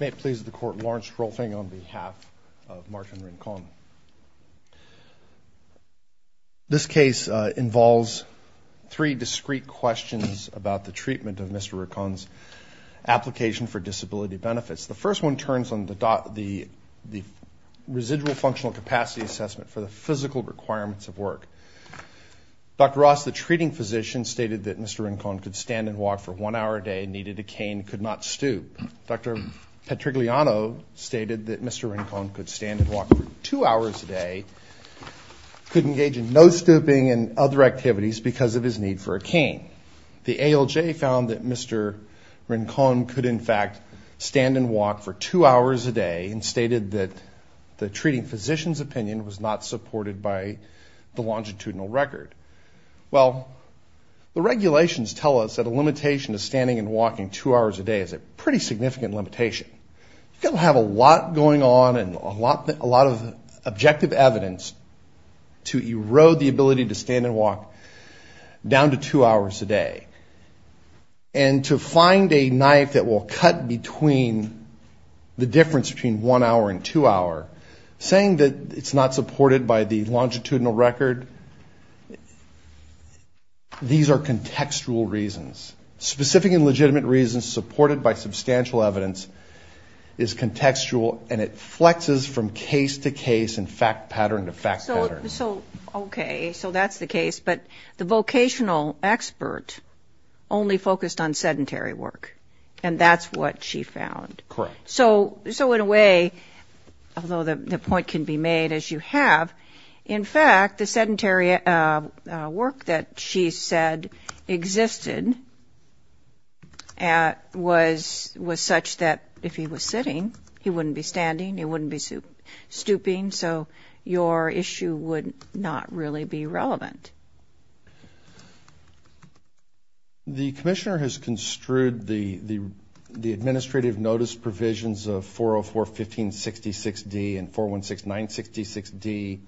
May it please the court Lawrence Rolfing on behalf of Martin Rincon. This case involves three discrete questions about the treatment of Mr. Rincon's application for disability benefits. The first one turns on the dot the the residual functional capacity assessment for the physical requirements of work. Dr. Ross the treating physician stated that Mr. Rincon could stand and walk for two hours a day and could engage in no stooping and other activities because of his need for a cane. The ALJ found that Mr. Rincon could in fact stand and walk for two hours a day and stated that the treating physician's opinion was not supported by the longitudinal record. Well the regulations tell us that a limitation of standing and walking two hours a day is at best a violation of the treatment pretty significant limitation. You have a lot going on and a lot a lot of objective evidence to erode the ability to stand and walk down to two hours a day and to find a knife that will cut between the difference between one hour and two hour saying that it's not supported by the longitudinal record these are contextual reasons specific and legitimate reasons supported by substantial evidence is contextual and it flexes from case to case and fact pattern to fact pattern. So okay so that's the case but the vocational expert only focused on sedentary work and that's what she found. Correct. So so in a way although the point can be made as you have in fact the sedentary work that she said existed and was was such that if he was sitting he wouldn't be standing he wouldn't be stooping so your issue would not really be relevant. The commissioner has construed the the administrative notice provisions of 404 1566 D and 416 966 D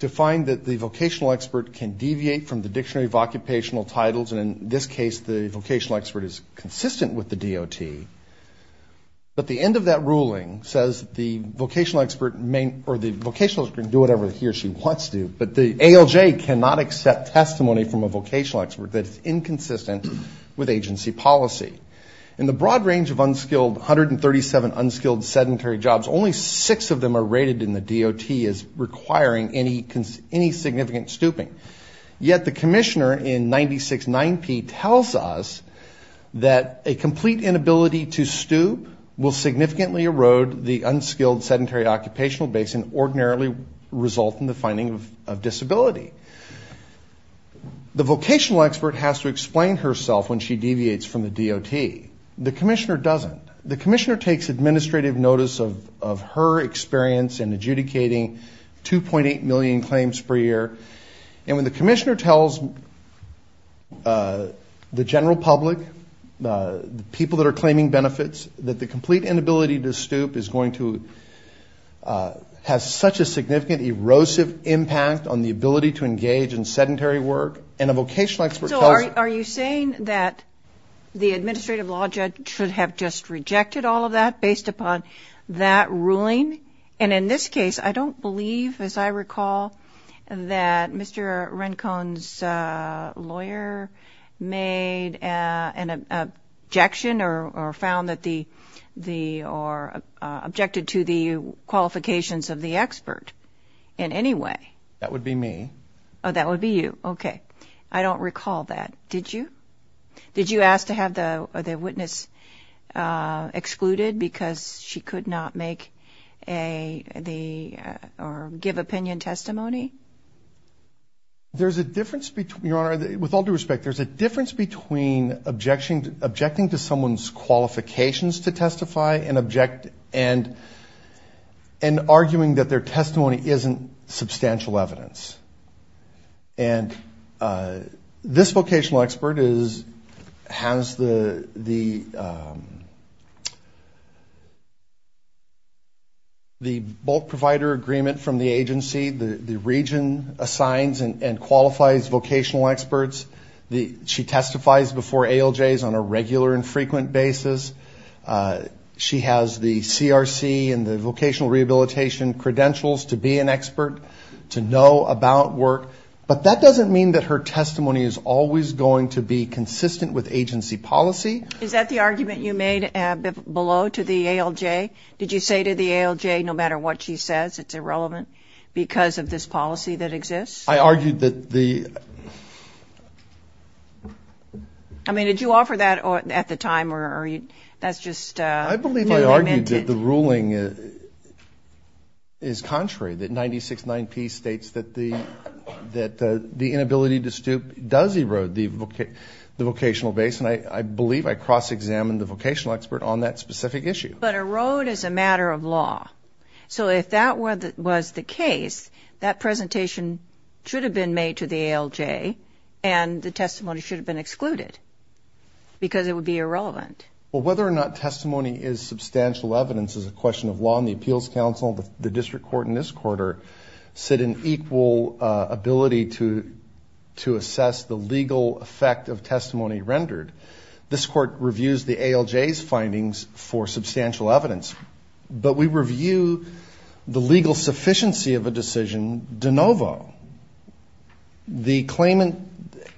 to find that the vocational expert can deviate from the dictionary of occupational titles and in this case the vocational expert is consistent with the DOT but the end of that ruling says the vocational expert may or the vocational can do whatever he or she wants to but the ALJ cannot accept testimony from a vocational expert that's inconsistent with agency policy. In the broad range of unskilled 137 unskilled sedentary jobs only six of them are rated in the DOT as requiring any any significant stooping yet the commissioner in 96 9p tells us that a complete inability to stoop will significantly erode the unskilled sedentary occupational base and ordinarily result in the finding of disability. The vocational expert has to explain herself when she deviates from the DOT. The commissioner doesn't. The commissioner takes administrative notice of of her experience in adjudicating 2.8 million claims per year and when the commissioner tells the general public the people that are claiming benefits that the complete inability to stoop is going to have such a significant erosive impact on the ability to engage in sedentary work and a vocational expert... So are you saying that the administrative law judge should have just rejected all of that based upon that ruling and in this case I don't believe as I recall that Mr. Rencone's lawyer made an objection or found that the the or objected to the qualifications of the expert in any way. That would be me. Oh that would be you okay I don't recall that. Did you? Did you ask to have the witness excluded because she could not make a the or give opinion testimony? There's a difference between your honor with all due respect there's a difference between objection objecting to someone's qualifications to testify and object and and arguing that their testimony isn't substantial evidence and this vocational expert is has the the the bulk provider agreement from the agency the region assigns and qualifies vocational experts the she testifies before ALJs on a regular and frequent basis she has the CRC and the vocational rehabilitation credentials to be an expert to know about work but that doesn't mean that her testimony is always going to be consistent with agency policy. Is that the argument you made below to the ALJ? Did you say to the ALJ no matter what she says it's irrelevant because of this policy that exists? I argued that the I mean did you offer that or at the time or are you that's just I believe I argued that the ruling is contrary that 96 9 p states that the that the inability to stoop does erode the vocational base and I believe I cross-examined the vocational expert on that specific issue. But erode is a matter of law so if that were that was the case that presentation should have been made to the ALJ and the testimony should have been excluded because it would be irrelevant. Well whether or not testimony is substantial evidence is a question of law in the Appeals Council the District Court in this quarter said an equal ability to to assess the legal effect of testimony rendered. This court reviews the ALJ's findings for substantial evidence but we review the legal sufficiency of a decision de novo. The claimant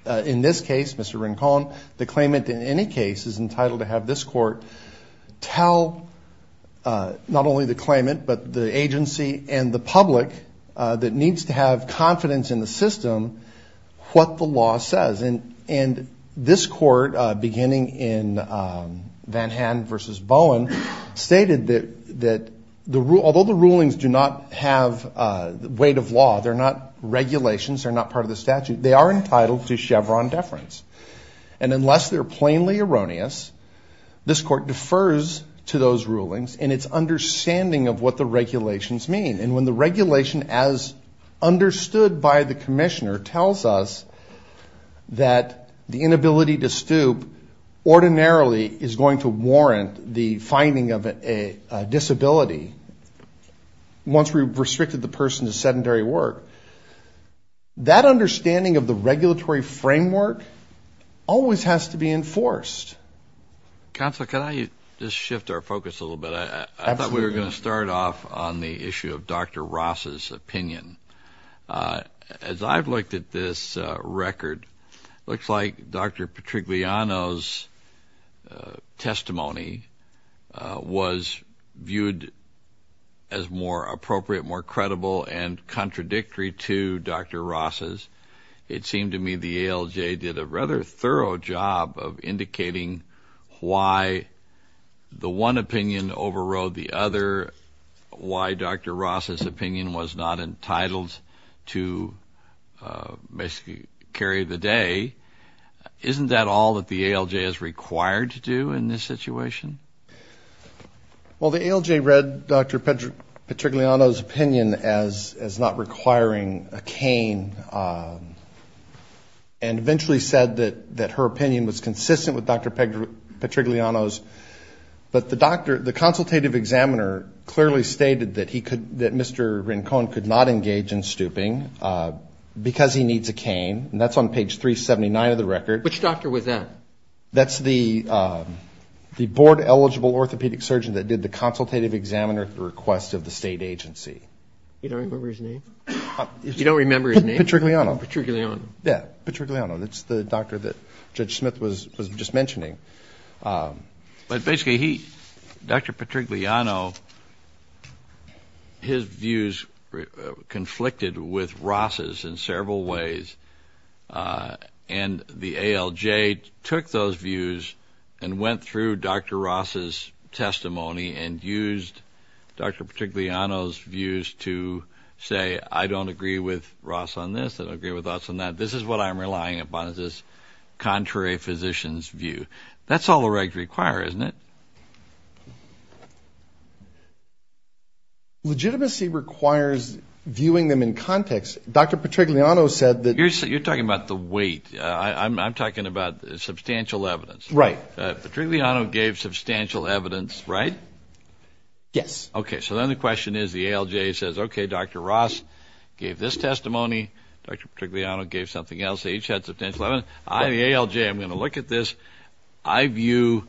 in this case Mr. Rincon the claimant in any case is entitled to have this court tell not only the claimant but the agency and the and this court beginning in Van Han versus Bowen stated that that the rule although the rulings do not have weight of law they're not regulations are not part of the statute they are entitled to Chevron deference and unless they're plainly erroneous this court defers to those rulings and its understanding of what the regulations mean and when the regulation as understood by the that the inability to stoop ordinarily is going to warrant the finding of a disability once we've restricted the person to sedentary work that understanding of the regulatory framework always has to be enforced counsel can I just shift our focus a little bit I thought we were going to looks like dr. Patrick Liano's testimony was viewed as more appropriate more credible and contradictory to dr. Ross's it seemed to me the ALJ did a rather thorough job of indicating why the one opinion overrode the other why dr. Ross's opinion was not entitled to carry the day isn't that all that the ALJ is required to do in this situation well the ALJ read dr. Patrick Liano's opinion as as not requiring a cane and eventually said that that her opinion was consistent with dr. Patrick Liano's but the doctor the consultative examiner clearly stated that he could that mr. Rincon could not engage in stooping because he needs a cane and that's on page 379 of the record which doctor was that that's the the board eligible orthopedic surgeon that did the consultative examiner at the request of the state agency you don't remember his name you don't remember his name Patrick Liano yeah Patrick Liano that's the doctor that judge Smith was was just mentioning but basically he dr. Patrick Liano his views conflicted with Ross's in several ways and the ALJ took those views and went through dr. Ross's testimony and used dr. Patrick Liano's views to say I don't agree with Ross on this that I agree with us on that this is what I'm relying upon is this contrary physicians view that's all the require isn't it legitimacy requires viewing them in context dr. Patrick Liano said that you're so you're talking about the weight I'm talking about substantial evidence right but really I don't gave substantial evidence right yes okay so then the question is the ALJ says okay dr. Ross gave this testimony dr. particularly I don't gave something else they each had substantial evidence I the ALJ I'm gonna look at this I view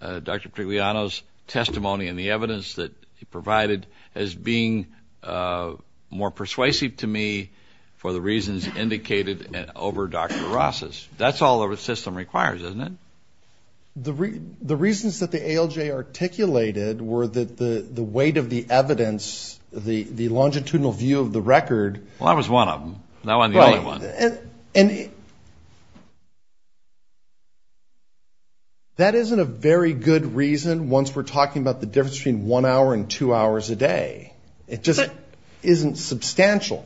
dr. Patrick Liano's testimony and the evidence that he provided as being more persuasive to me for the reasons indicated and over dr. Ross's that's all over the system requires isn't it the reason the reasons that the ALJ articulated were that the the weight of the evidence the the longitudinal view of the record well I was one of them now and and that isn't a very good reason once we're talking about the difference between one hour and two hours a day it just isn't substantial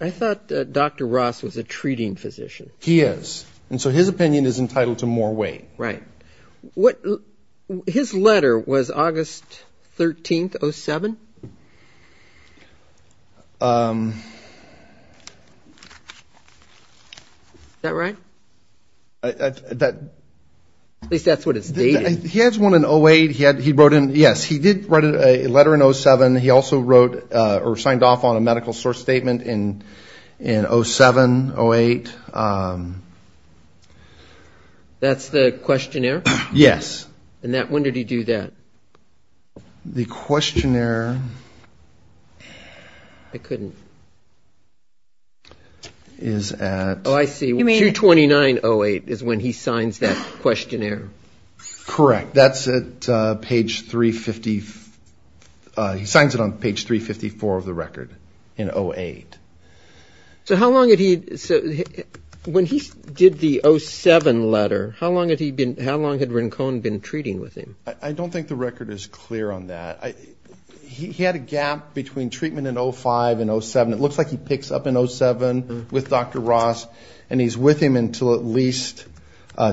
I thought dr. Ross was a treating physician he is and so his opinion is entitled to more weight right what his letter was August 13th 07 that right that at least that's what it's dating he has one in 08 he had he wrote him yes he did write a letter in 07 he also wrote or signed off on a medical source statement in in 07 08 that's the questionnaire yes and that when did he do that the questionnaire I couldn't is at oh I see me 229 08 is when he signs that questionnaire correct that's it page 350 he signs it on page 354 of the record in 08 so how long did he so when he did the 07 letter how long had he been how long had Rincon been treating with him I don't think the record is clear on that I he had a gap between treatment in 05 and 07 it looks like he picks up in 07 with dr. Ross and he's with him until at least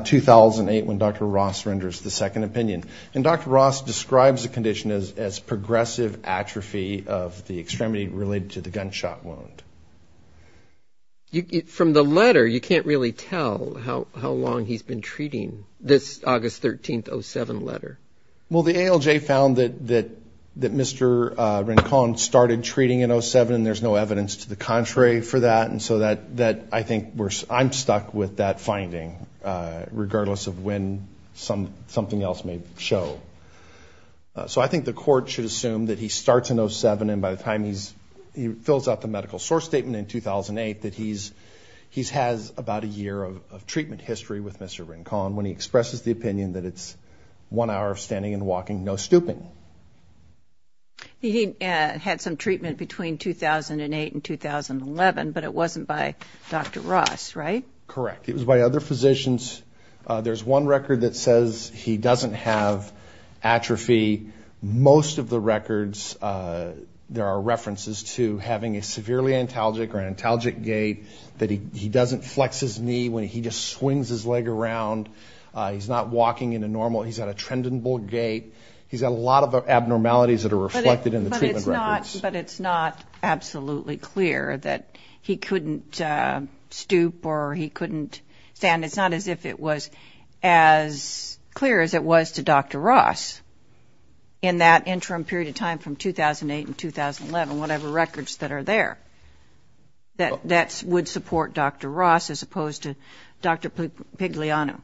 2008 when dr. Ross renders the second opinion and dr. Ross describes the condition as progressive atrophy of the extremity related to the gunshot wound from the letter you can't really tell how long he's been treating this August 13th 07 letter well the ALJ found that that that mr. Rincon started treating in 07 there's no evidence to the contrary for that and so that that I think we're I'm stuck with that finding regardless of when some something else may show so I think the court should assume that he fills out the medical source statement in 2008 that he's he's has about a year of treatment history with mr. Rincon when he expresses the opinion that it's one hour of standing and walking no stooping he had some treatment between 2008 and 2011 but it wasn't by dr. Ross right correct it was by other physicians there's one record that says he doesn't have atrophy most of the to having a severely antalgic or antalgic gait that he doesn't flex his knee when he just swings his leg around he's not walking in a normal he's at a trend and bull gate he's got a lot of abnormalities that are reflected in the treatment but it's not absolutely clear that he couldn't stoop or he couldn't stand it's not as if it was as clear as it was to dr. Ross in that records that are there that that's would support dr. Ross as opposed to dr. pigliano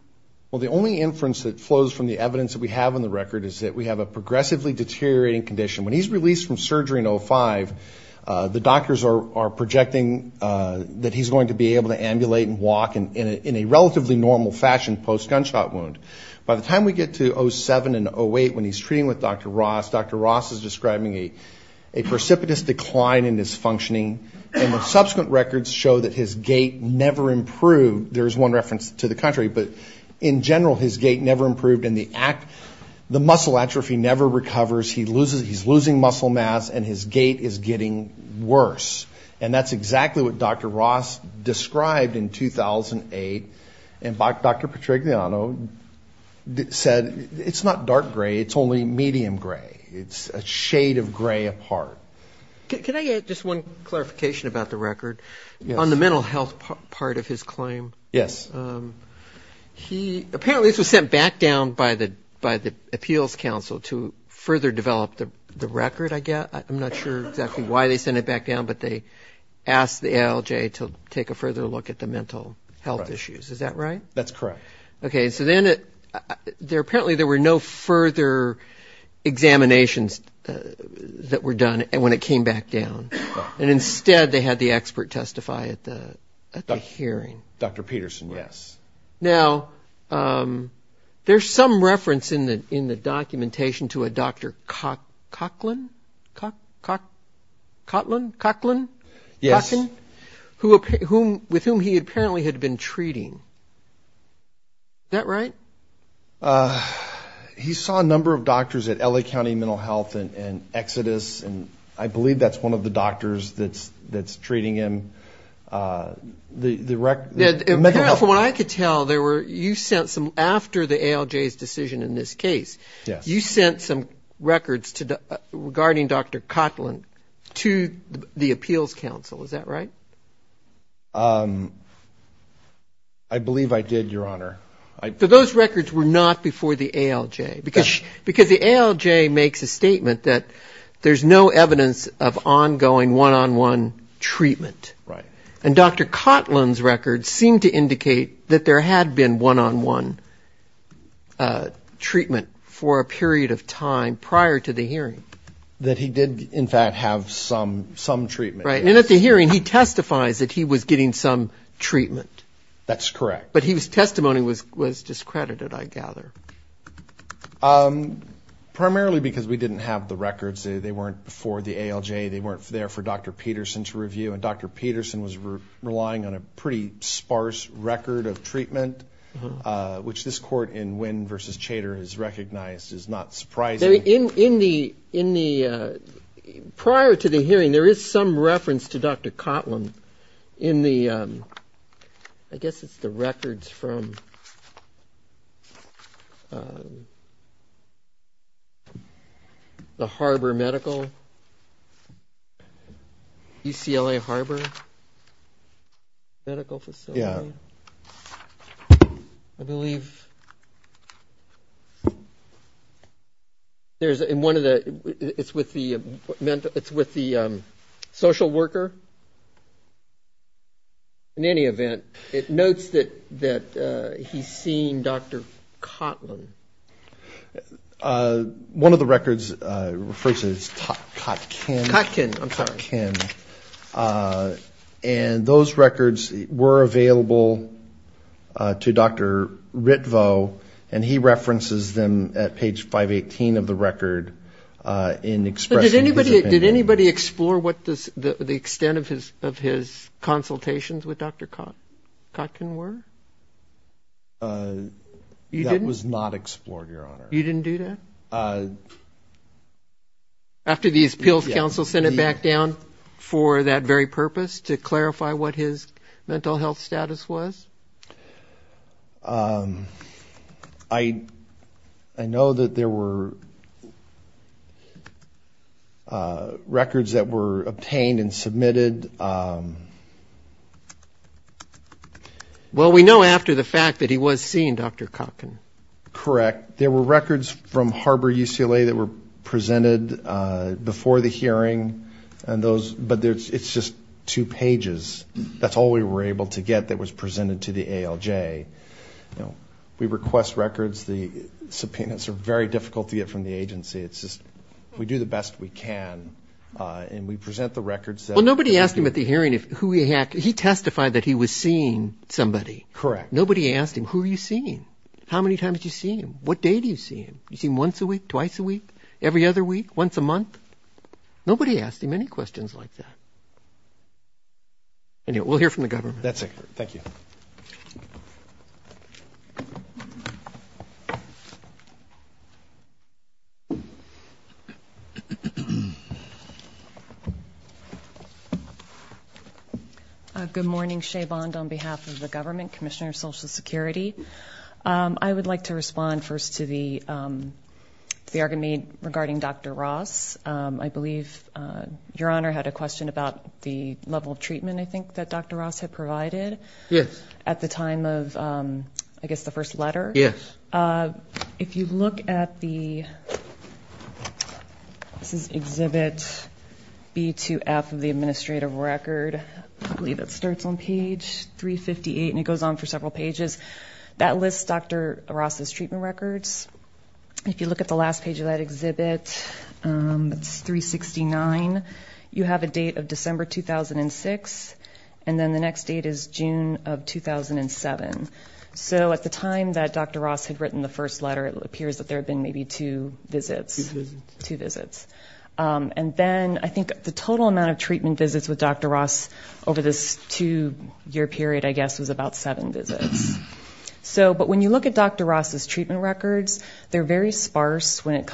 well the only inference that flows from the evidence that we have on the record is that we have a progressively deteriorating condition when he's released from surgery in 05 the doctors are projecting that he's going to be able to ambulate and walk and in a relatively normal fashion post gunshot wound by the time we get to 07 and 08 when he's treating with dr. Ross is describing a precipitous decline in his functioning and the subsequent records show that his gait never improved there's one reference to the country but in general his gait never improved in the act the muscle atrophy never recovers he loses he's losing muscle mass and his gait is getting worse and that's exactly what dr. Ross described in 2008 and by dr. Patrick said it's not dark gray it's only medium gray it's a shade of gray apart can I get just one clarification about the record on the mental health part of his claim yes he apparently was sent back down by the by the Appeals Council to further develop the record I guess I'm not sure exactly why they sent it back down but they asked the LJ to take a further look at the mental health issues is that right that's correct okay so then it there apparently there were no further examinations that were done and when it came back down and instead they had the expert testify at the hearing dr. Peterson yes now there's some reference in the in the documentation to a dr. Coughlin Coughlin Coughlin yes who with whom he apparently had been treating that right he saw a number of doctors at LA County Mental Health and Exodus and I believe that's one of the doctors that's that's treating him the the wreck did what I could tell there were you sent some after the ALJ's decision in this case yes you sent some records to the regarding dr. Coughlin to the Appeals Council is that right I believe I did your honor I put those records were not before the ALJ because because the ALJ makes a statement that there's no evidence of ongoing one-on-one treatment right and dr. Coughlin's records seem to for a period of time prior to the hearing that he did in fact have some some treatment right and at the hearing he testifies that he was getting some treatment that's correct but he was testimony was was discredited I gather primarily because we didn't have the records they weren't before the ALJ they weren't there for dr. Peterson to review and dr. Peterson was relying on a pretty sparse record of treatment which this court in Wynn versus Chater is recognized is not surprising in in the in the prior to the hearing there is some reference to dr. Coughlin in the I guess it's the records from the Harbor Medical UCLA Harbor yeah I believe there's in one of the it's with the mental it's with the social worker in any event it notes that that he's seen dr. Coughlin one of the records and those records were available to dr. ritvo and he references them at page 518 of the record in express anybody did anybody explore what this the extent of his of his consultations with dr. cotton were you that was not explored your honor you didn't do that after these pills counsel sent it back down for that very purpose to clarify what his mental health status was I I know that there were records that were well we know after the fact that he was seen dr. cotton correct there were records from Harbor UCLA that were presented before the hearing and those but there's it's just two pages that's all we were able to get that was presented to the ALJ you know we request records the subpoenas are very difficult to get from the agency it's just we do the best we can and we present the records well nobody asked him at the hearing if who he had he testified that he was seeing somebody correct nobody asked him who are you seeing how many times you see him what day do you see him you see him once a week twice a week every other week once a month nobody asked him any questions like that and yet we'll hear from the government that's a thank you good morning Shea bond on behalf of the government Commissioner of Social Security I would like to respond first to the the argument regarding dr. Ross I believe your honor had a question about the level of treatment I think that dr. Ross had provided yes at the time of I guess the first letter yes if you look at the this is exhibit B to F of the administrative record I believe it starts on page 358 and it goes on for several pages that lists dr. Ross's treatment records if you look at the last page of that exhibit it's 369 you have a date of December 2006 and then the next date is June of 2007 so at the time that dr. Ross had written the first letter it appears that there have been maybe two visits two visits and then I think the total amount of treatment visits with dr. Ross over this two-year period I guess was about seven visits so but when you look at dr. Ross's treatment records they're very sparse when it and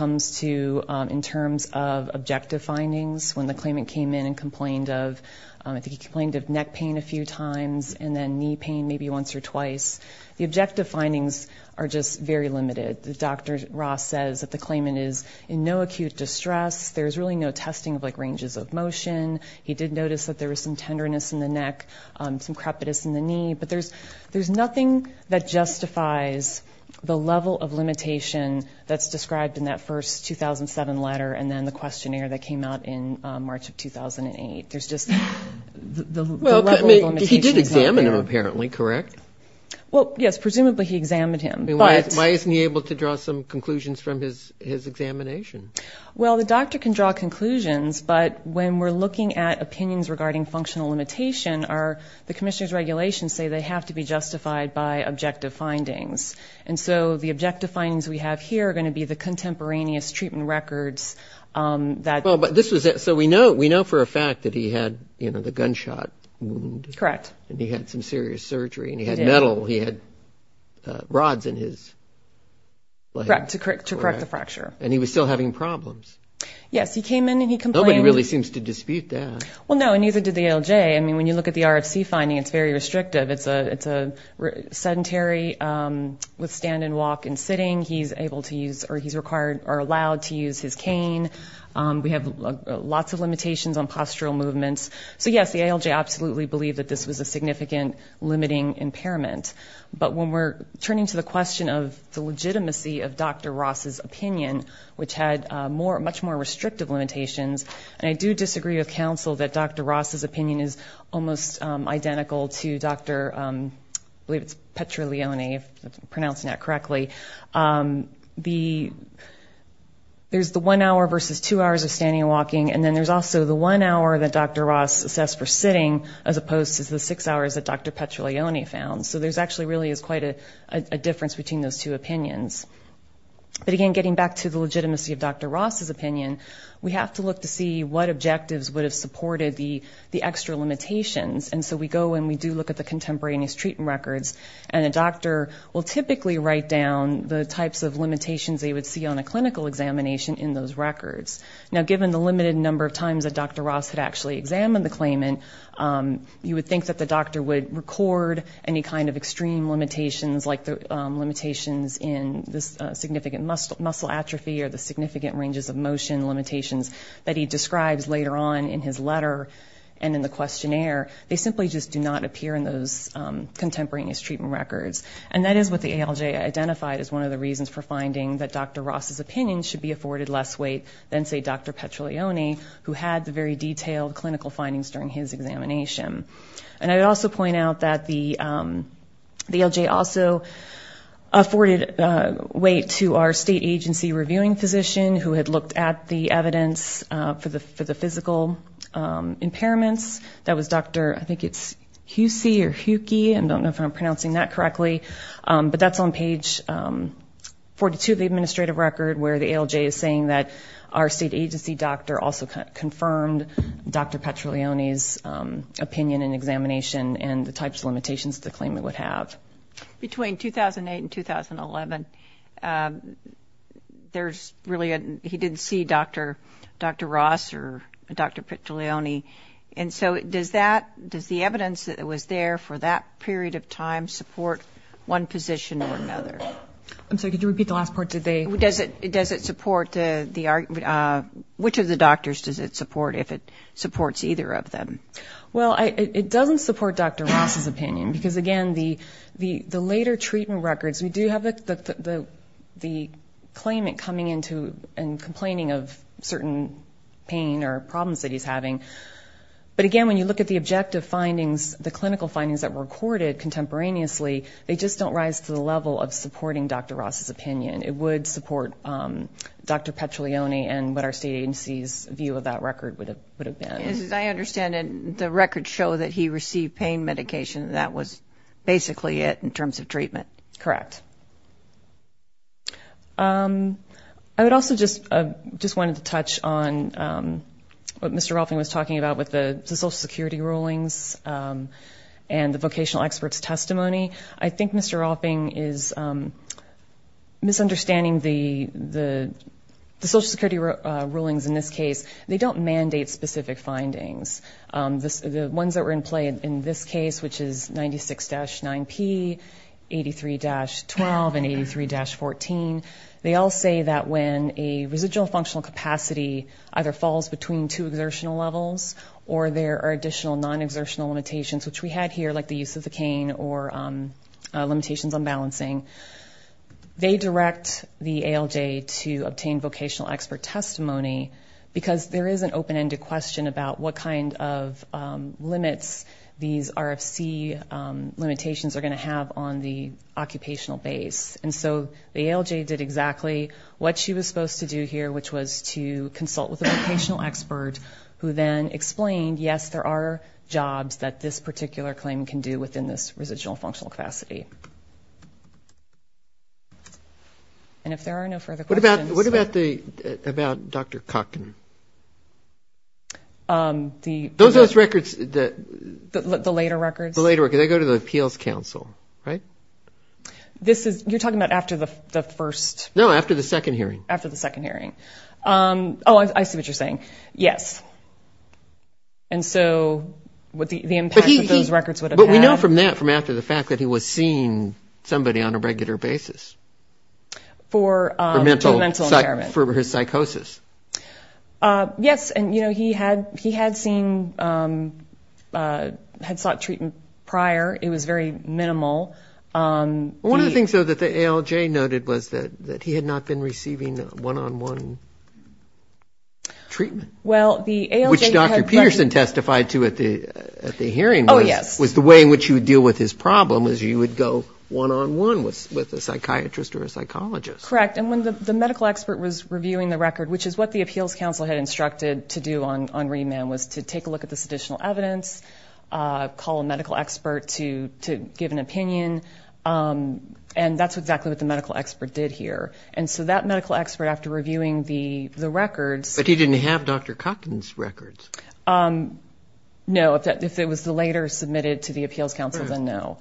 complained of I think he complained of neck pain a few times and then knee pain maybe once or twice the objective findings are just very limited the dr. Ross says that the claimant is in no acute distress there's really no testing of like ranges of motion he did notice that there was some tenderness in the neck some crepitus in the knee but there's there's nothing that justifies the level of limitation that's described in that first 2007 letter and then the 2008 there's just he did examine apparently correct well yes presumably he examined him but why isn't he able to draw some conclusions from his his examination well the doctor can draw conclusions but when we're looking at opinions regarding functional limitation are the commissioners regulations say they have to be justified by objective findings and so the objective findings we have here are going to be the contemporaneous treatment records that this was it so we know we know for a fact that he had you know the gunshot correct and he had some serious surgery and he had metal he had rods in his like to correct to correct the fracture and he was still having problems yes he came in and he complained really seems to dispute that well no and neither did the ALJ I mean when you look at the RFC finding it's very restrictive it's a it's a sedentary with stand and walk and sitting he's able to use or he's required or allowed to use his cane we have lots of limitations on postural movements so yes the ALJ absolutely believed that this was a significant limiting impairment but when we're turning to the question of the legitimacy of dr. Ross's opinion which had more much more restrictive limitations and I do disagree with counsel that dr. Ross's opinion is almost identical to dr. believe it's Petra Leone pronouncing that correctly the there's the one hour versus two hours of standing and walking and then there's also the one hour that dr. Ross assessed for sitting as opposed to the six hours that dr. Petra Leone found so there's actually really is quite a difference between those two opinions but again getting back to the legitimacy of dr. Ross's opinion we have to look to see what objectives would have supported the the extra limitations and so we go and we do look at the contemporaneous treatment records and a doctor will typically write down the types of limitations they would see on a clinical examination in those records now given the limited number of times that dr. Ross had actually examined the claimant you would think that the doctor would record any kind of extreme limitations like the limitations in this significant muscle muscle atrophy or the significant ranges of motion limitations that he describes later on in his letter and in the questionnaire they simply just do not appear in those contemporaneous treatment records and that is what the ALJ identified as one of the reasons for finding that dr. Ross's opinion should be afforded less weight than say dr. Petra Leone who had the very detailed clinical findings during his examination and I would also point out that the the ALJ also afforded weight to our state agency reviewing physician who had looked at the evidence for the for the physical impairments that was dr. I think it's Hucy or Hucy I don't know if I'm pronouncing that correctly but that's on page 42 of the administrative record where the ALJ is saying that our state agency doctor also confirmed dr. Petra Leone's opinion and examination and the types of limitations to claim it would have between 2008 and 2011 there's really a he didn't see dr. dr. Ross or dr. Petra Leone and so it does that does the evidence that it was there for that period of time support one position or another I'm sorry could you repeat the last part today who does it does it support the which of the doctors does it support if it supports either of them well I it doesn't support dr. Ross's opinion because again the the the later treatment records we do have it the the claimant coming into and complaining of certain pain or problems that he's having but again when you look at the objective findings the clinical findings that were recorded contemporaneously they just don't rise to the level of supporting dr. Ross's opinion it would support dr. Petra Leone and what our state agency's view of that record would have would have been I understand and the records show that he received pain medication that was basically it in correct I would also just just wanted to touch on what mr. Rolfing was talking about with the Social Security rulings and the vocational experts testimony I think mr. offing is misunderstanding the the Social Security rulings in this case they don't mandate specific findings this the ones that were in play in this case which is 96 dash 9p 83 dash 12 and 83 dash 14 they all say that when a residual functional capacity either falls between two exertional levels or there are additional non exertional limitations which we had here like the use of the cane or limitations on balancing they direct the ALJ to obtain vocational expert testimony because there is an open-ended question about what kind of limits these RFC limitations are going to have on the occupational base and so the ALJ did exactly what she was supposed to do here which was to consult with a vocational expert who then explained yes there are jobs that this particular claim can do within this residual functional capacity and if there are no further what about what about the about dr. Cochran the those those records that the later records the later work they go to the Appeals Council right this is you're talking about after the first no after the second hearing after the second hearing oh I see what you're saying yes and so what the impact of those records what we know from that from after the fact that he was seeing somebody on a regular basis for mental mental impairment for his psychosis yes and you know he had he had seen had sought treatment prior it was very minimal one of the things so that the ALJ noted was that that he had not been receiving one-on-one treatment well the which dr. Peterson testified to at the at the hearing oh yes was the way in which you deal with his problem is you would go one-on-one with with a psychiatrist or a psychologist correct and when the medical expert was reviewing the record which is what the Appeals Council had instructed to do on on remand was to take a look at this additional evidence call a medical expert to to give an opinion and that's exactly what the medical expert did here and so that medical expert after reviewing the the records but he didn't have dr. Cochran's no if that if it was the later submitted to the Appeals Council then no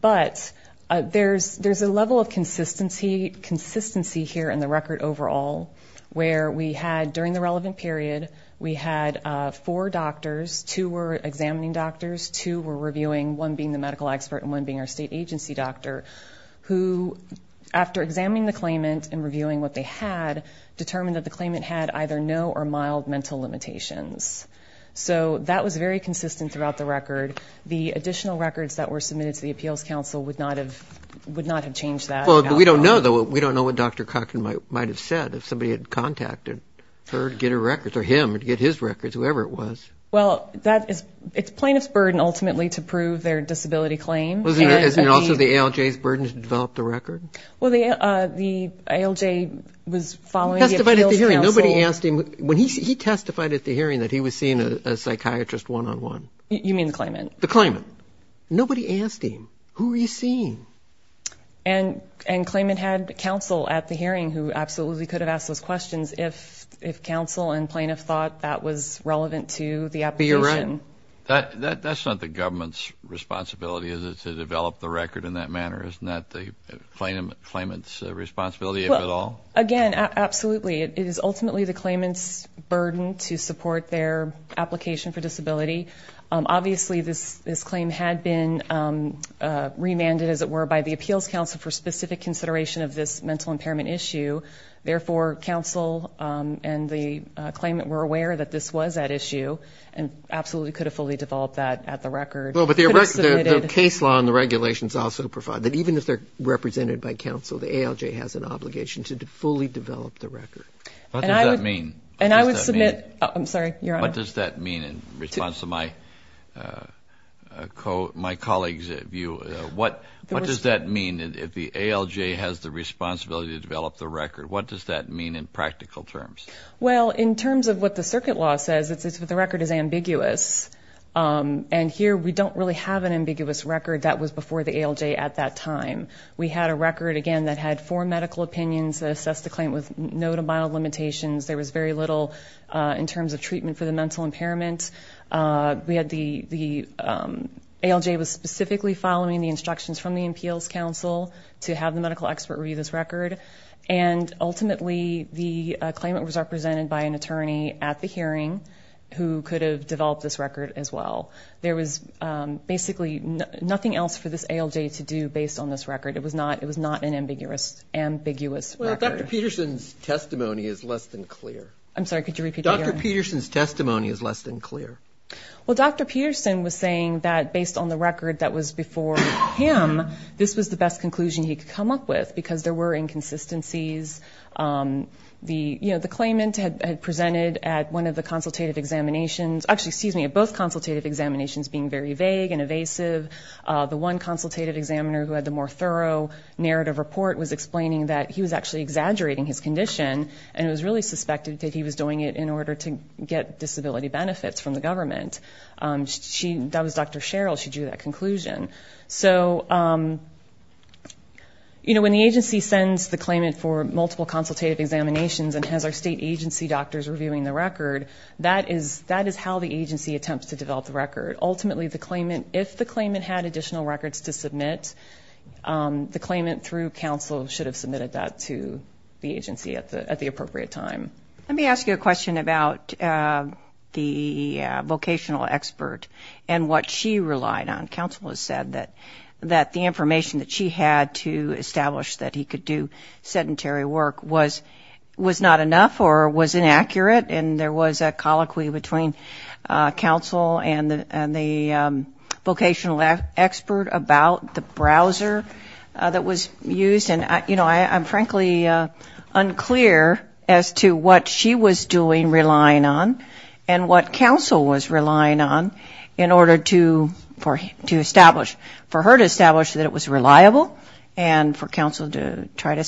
but there's there's a level of consistency consistency here in the record overall where we had during the relevant period we had four doctors to were examining doctors to were reviewing one being the medical expert and one being our state agency doctor who after examining the claimant and reviewing what they had determined that the claimant had either no or mild mental limitations so that was very consistent throughout the record the additional records that were submitted to the Appeals Council would not have would not have changed that well we don't know that what we don't know what dr. Cochran might might have said if somebody had contacted her to get her records or him and get his records whoever it was well that is it's plaintiff's burden ultimately to prove their disability claim isn't it also the ALJ's burden to develop the record well the ALJ was following nobody asked him when he testified at the hearing that he was seeing a psychiatrist one-on-one you mean the claimant the claimant nobody asked him who are you seeing and and claimant had counsel at the hearing who absolutely could have asked those questions if if counsel and plaintiff thought that was relevant to the application that that's not the government's responsibility is it to develop the record in that manner isn't that the claimant's responsibility at all again absolutely it is ultimately the claimant's burden to support their application for disability obviously this this claim had been remanded as it were by the Appeals Council for specific consideration of this mental impairment issue therefore counsel and the claimant were aware that this was at issue and absolutely could have fully developed that at the record well but the case law and the regulations also provide that even if they're represented by counsel the ALJ has an obligation to fully develop the record and I mean and I would submit I'm sorry what does that mean in response to my coat my colleagues at view what what does that mean if the ALJ has the responsibility to develop the record what does that mean in practical terms well in terms of what the circuit law says it's it's what the record is ambiguous and here we don't really have an ambiguous record that was before the ALJ at that time we had a record again that had four medical opinions that assessed the claim with no to mild limitations there was very little in terms of treatment for the mental impairment we had the the ALJ was specifically following the instructions from the Appeals Council to have the medical expert review this record and ultimately the claimant was represented by an attorney at the hearing who could have developed this record as well there was basically nothing else for this ALJ to do based on this record it was not it was not an ambiguous ambiguous Peterson's testimony is less than clear I'm sorry could you repeat dr. Peterson's testimony is less than clear well dr. Peterson was saying that based on the record that was before him this was the best conclusion he could come up with because there were inconsistencies the you know the consultative examinations actually sees me at both consultative examinations being very vague and evasive the one consultative examiner who had the more thorough narrative report was explaining that he was actually exaggerating his condition and it was really suspected that he was doing it in order to get disability benefits from the government she that was dr. Cheryl she drew that conclusion so you know when the agency sends the claimant for multiple consultative examinations and has our state agency doctors reviewing the record that is that is how the agency attempts to develop the record ultimately the claimant if the claimant had additional records to submit the claimant through counsel should have submitted that to the agency at the at the appropriate time let me ask you a question about the vocational expert and what she relied on counsel has said that that the information that she had to establish that he could do sedentary work was was not enough or was inaccurate and there was a colloquy between counsel and and the vocational expert about the browser that was used and you know I'm frankly unclear as to what she was doing relying on and what counsel was relying on in order to for him to establish for her to establish that it was reliable and for counsel to try to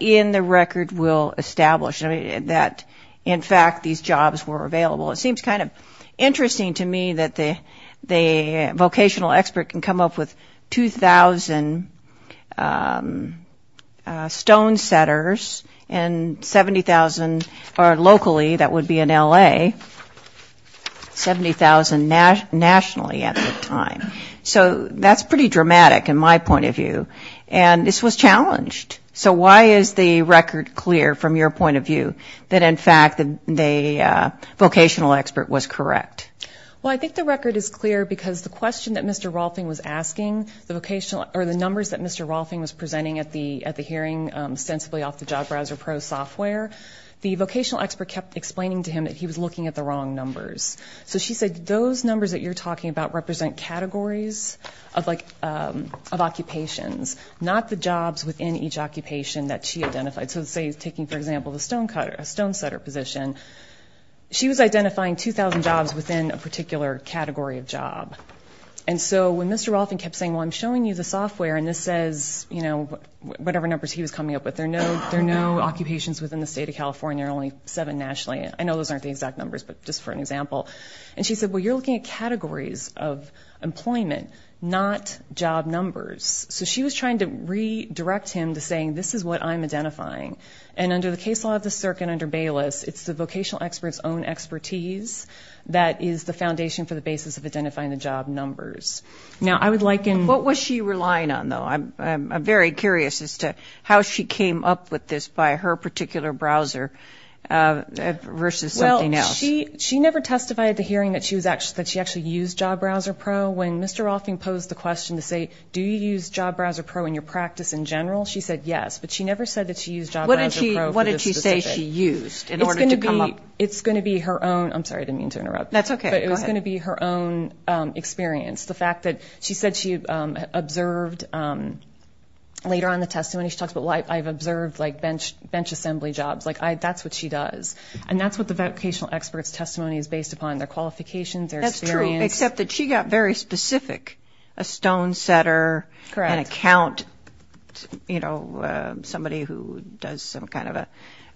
in the record will establish that in fact these jobs were available it seems kind of interesting to me that the the vocational expert can come up with 2,000 stone setters and 70,000 are locally that would be in LA 70,000 nationally at the time so that's pretty dramatic in my point of view and this was challenged so why is the record clear from your point of view that in fact the vocational expert was correct well I think the record is clear because the question that Mr. Rolfing was asking the vocational or the numbers that Mr. Rolfing was presenting at the at the hearing sensibly off the job browser pro software the vocational expert kept explaining to him that he was looking at the wrong numbers so she said those numbers that you're talking about represent categories of like of occupations not the jobs within each occupation that she identified so say he's taking for example the stone cutter a stone setter position she was identifying 2,000 jobs within a particular category of job and so when mr. Rolfing kept saying well I'm showing you the software and this says you know whatever numbers he was coming up with there no there no occupations within the state of California only seven nationally I know those aren't the exact numbers but just for an example and she said well you're looking at employment not job numbers so she was trying to redirect him to saying this is what I'm identifying and under the case law of the circuit under Bayless it's the vocational experts own expertise that is the foundation for the basis of identifying the job numbers now I would like in what was she relying on though I'm very curious as to how she came up with this by her particular browser versus well she she never testified at the hearing that she was actually that when mr. Rolfing posed the question to say do you use job browser pro in your practice in general she said yes but she never said that she used what did she what did she say she used it's gonna be it's gonna be her own I'm sorry I didn't mean to interrupt that's okay it was gonna be her own experience the fact that she said she observed later on the testimony she talks about life I've observed like bench bench assembly jobs like I that's what she does and that's what the vocational experts testimony is based upon their qualifications except that she got very specific a stone setter an account you know somebody who does some kind of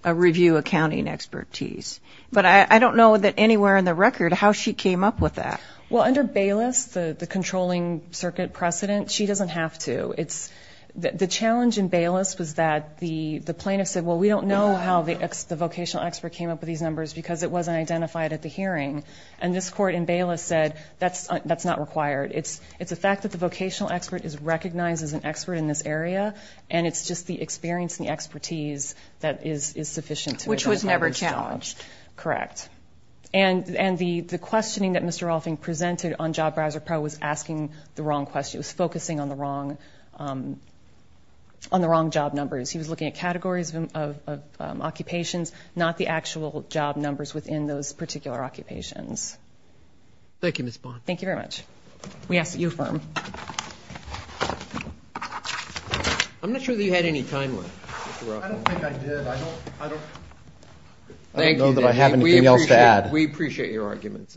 a review accounting expertise but I don't know that anywhere in the record how she came up with that well under Bayless the the controlling circuit precedent she doesn't have to it's the challenge in Bayless was that the the plaintiff said well we don't know how the ex the vocational expert came up with these numbers because it wasn't identified at the hearing and this court in Bayless said that's that's not required it's it's a fact that the vocational expert is recognized as an expert in this area and it's just the experience the expertise that is is sufficient which was never challenged correct and and the the questioning that mr. offing presented on job browser pro was asking the wrong question was focusing on the wrong on the wrong job numbers he was looking at categories of occupations not the actual job numbers within those particular occupations thank you miss bond thank you very much we ask that you affirm I'm not sure that you had any time we appreciate your arguments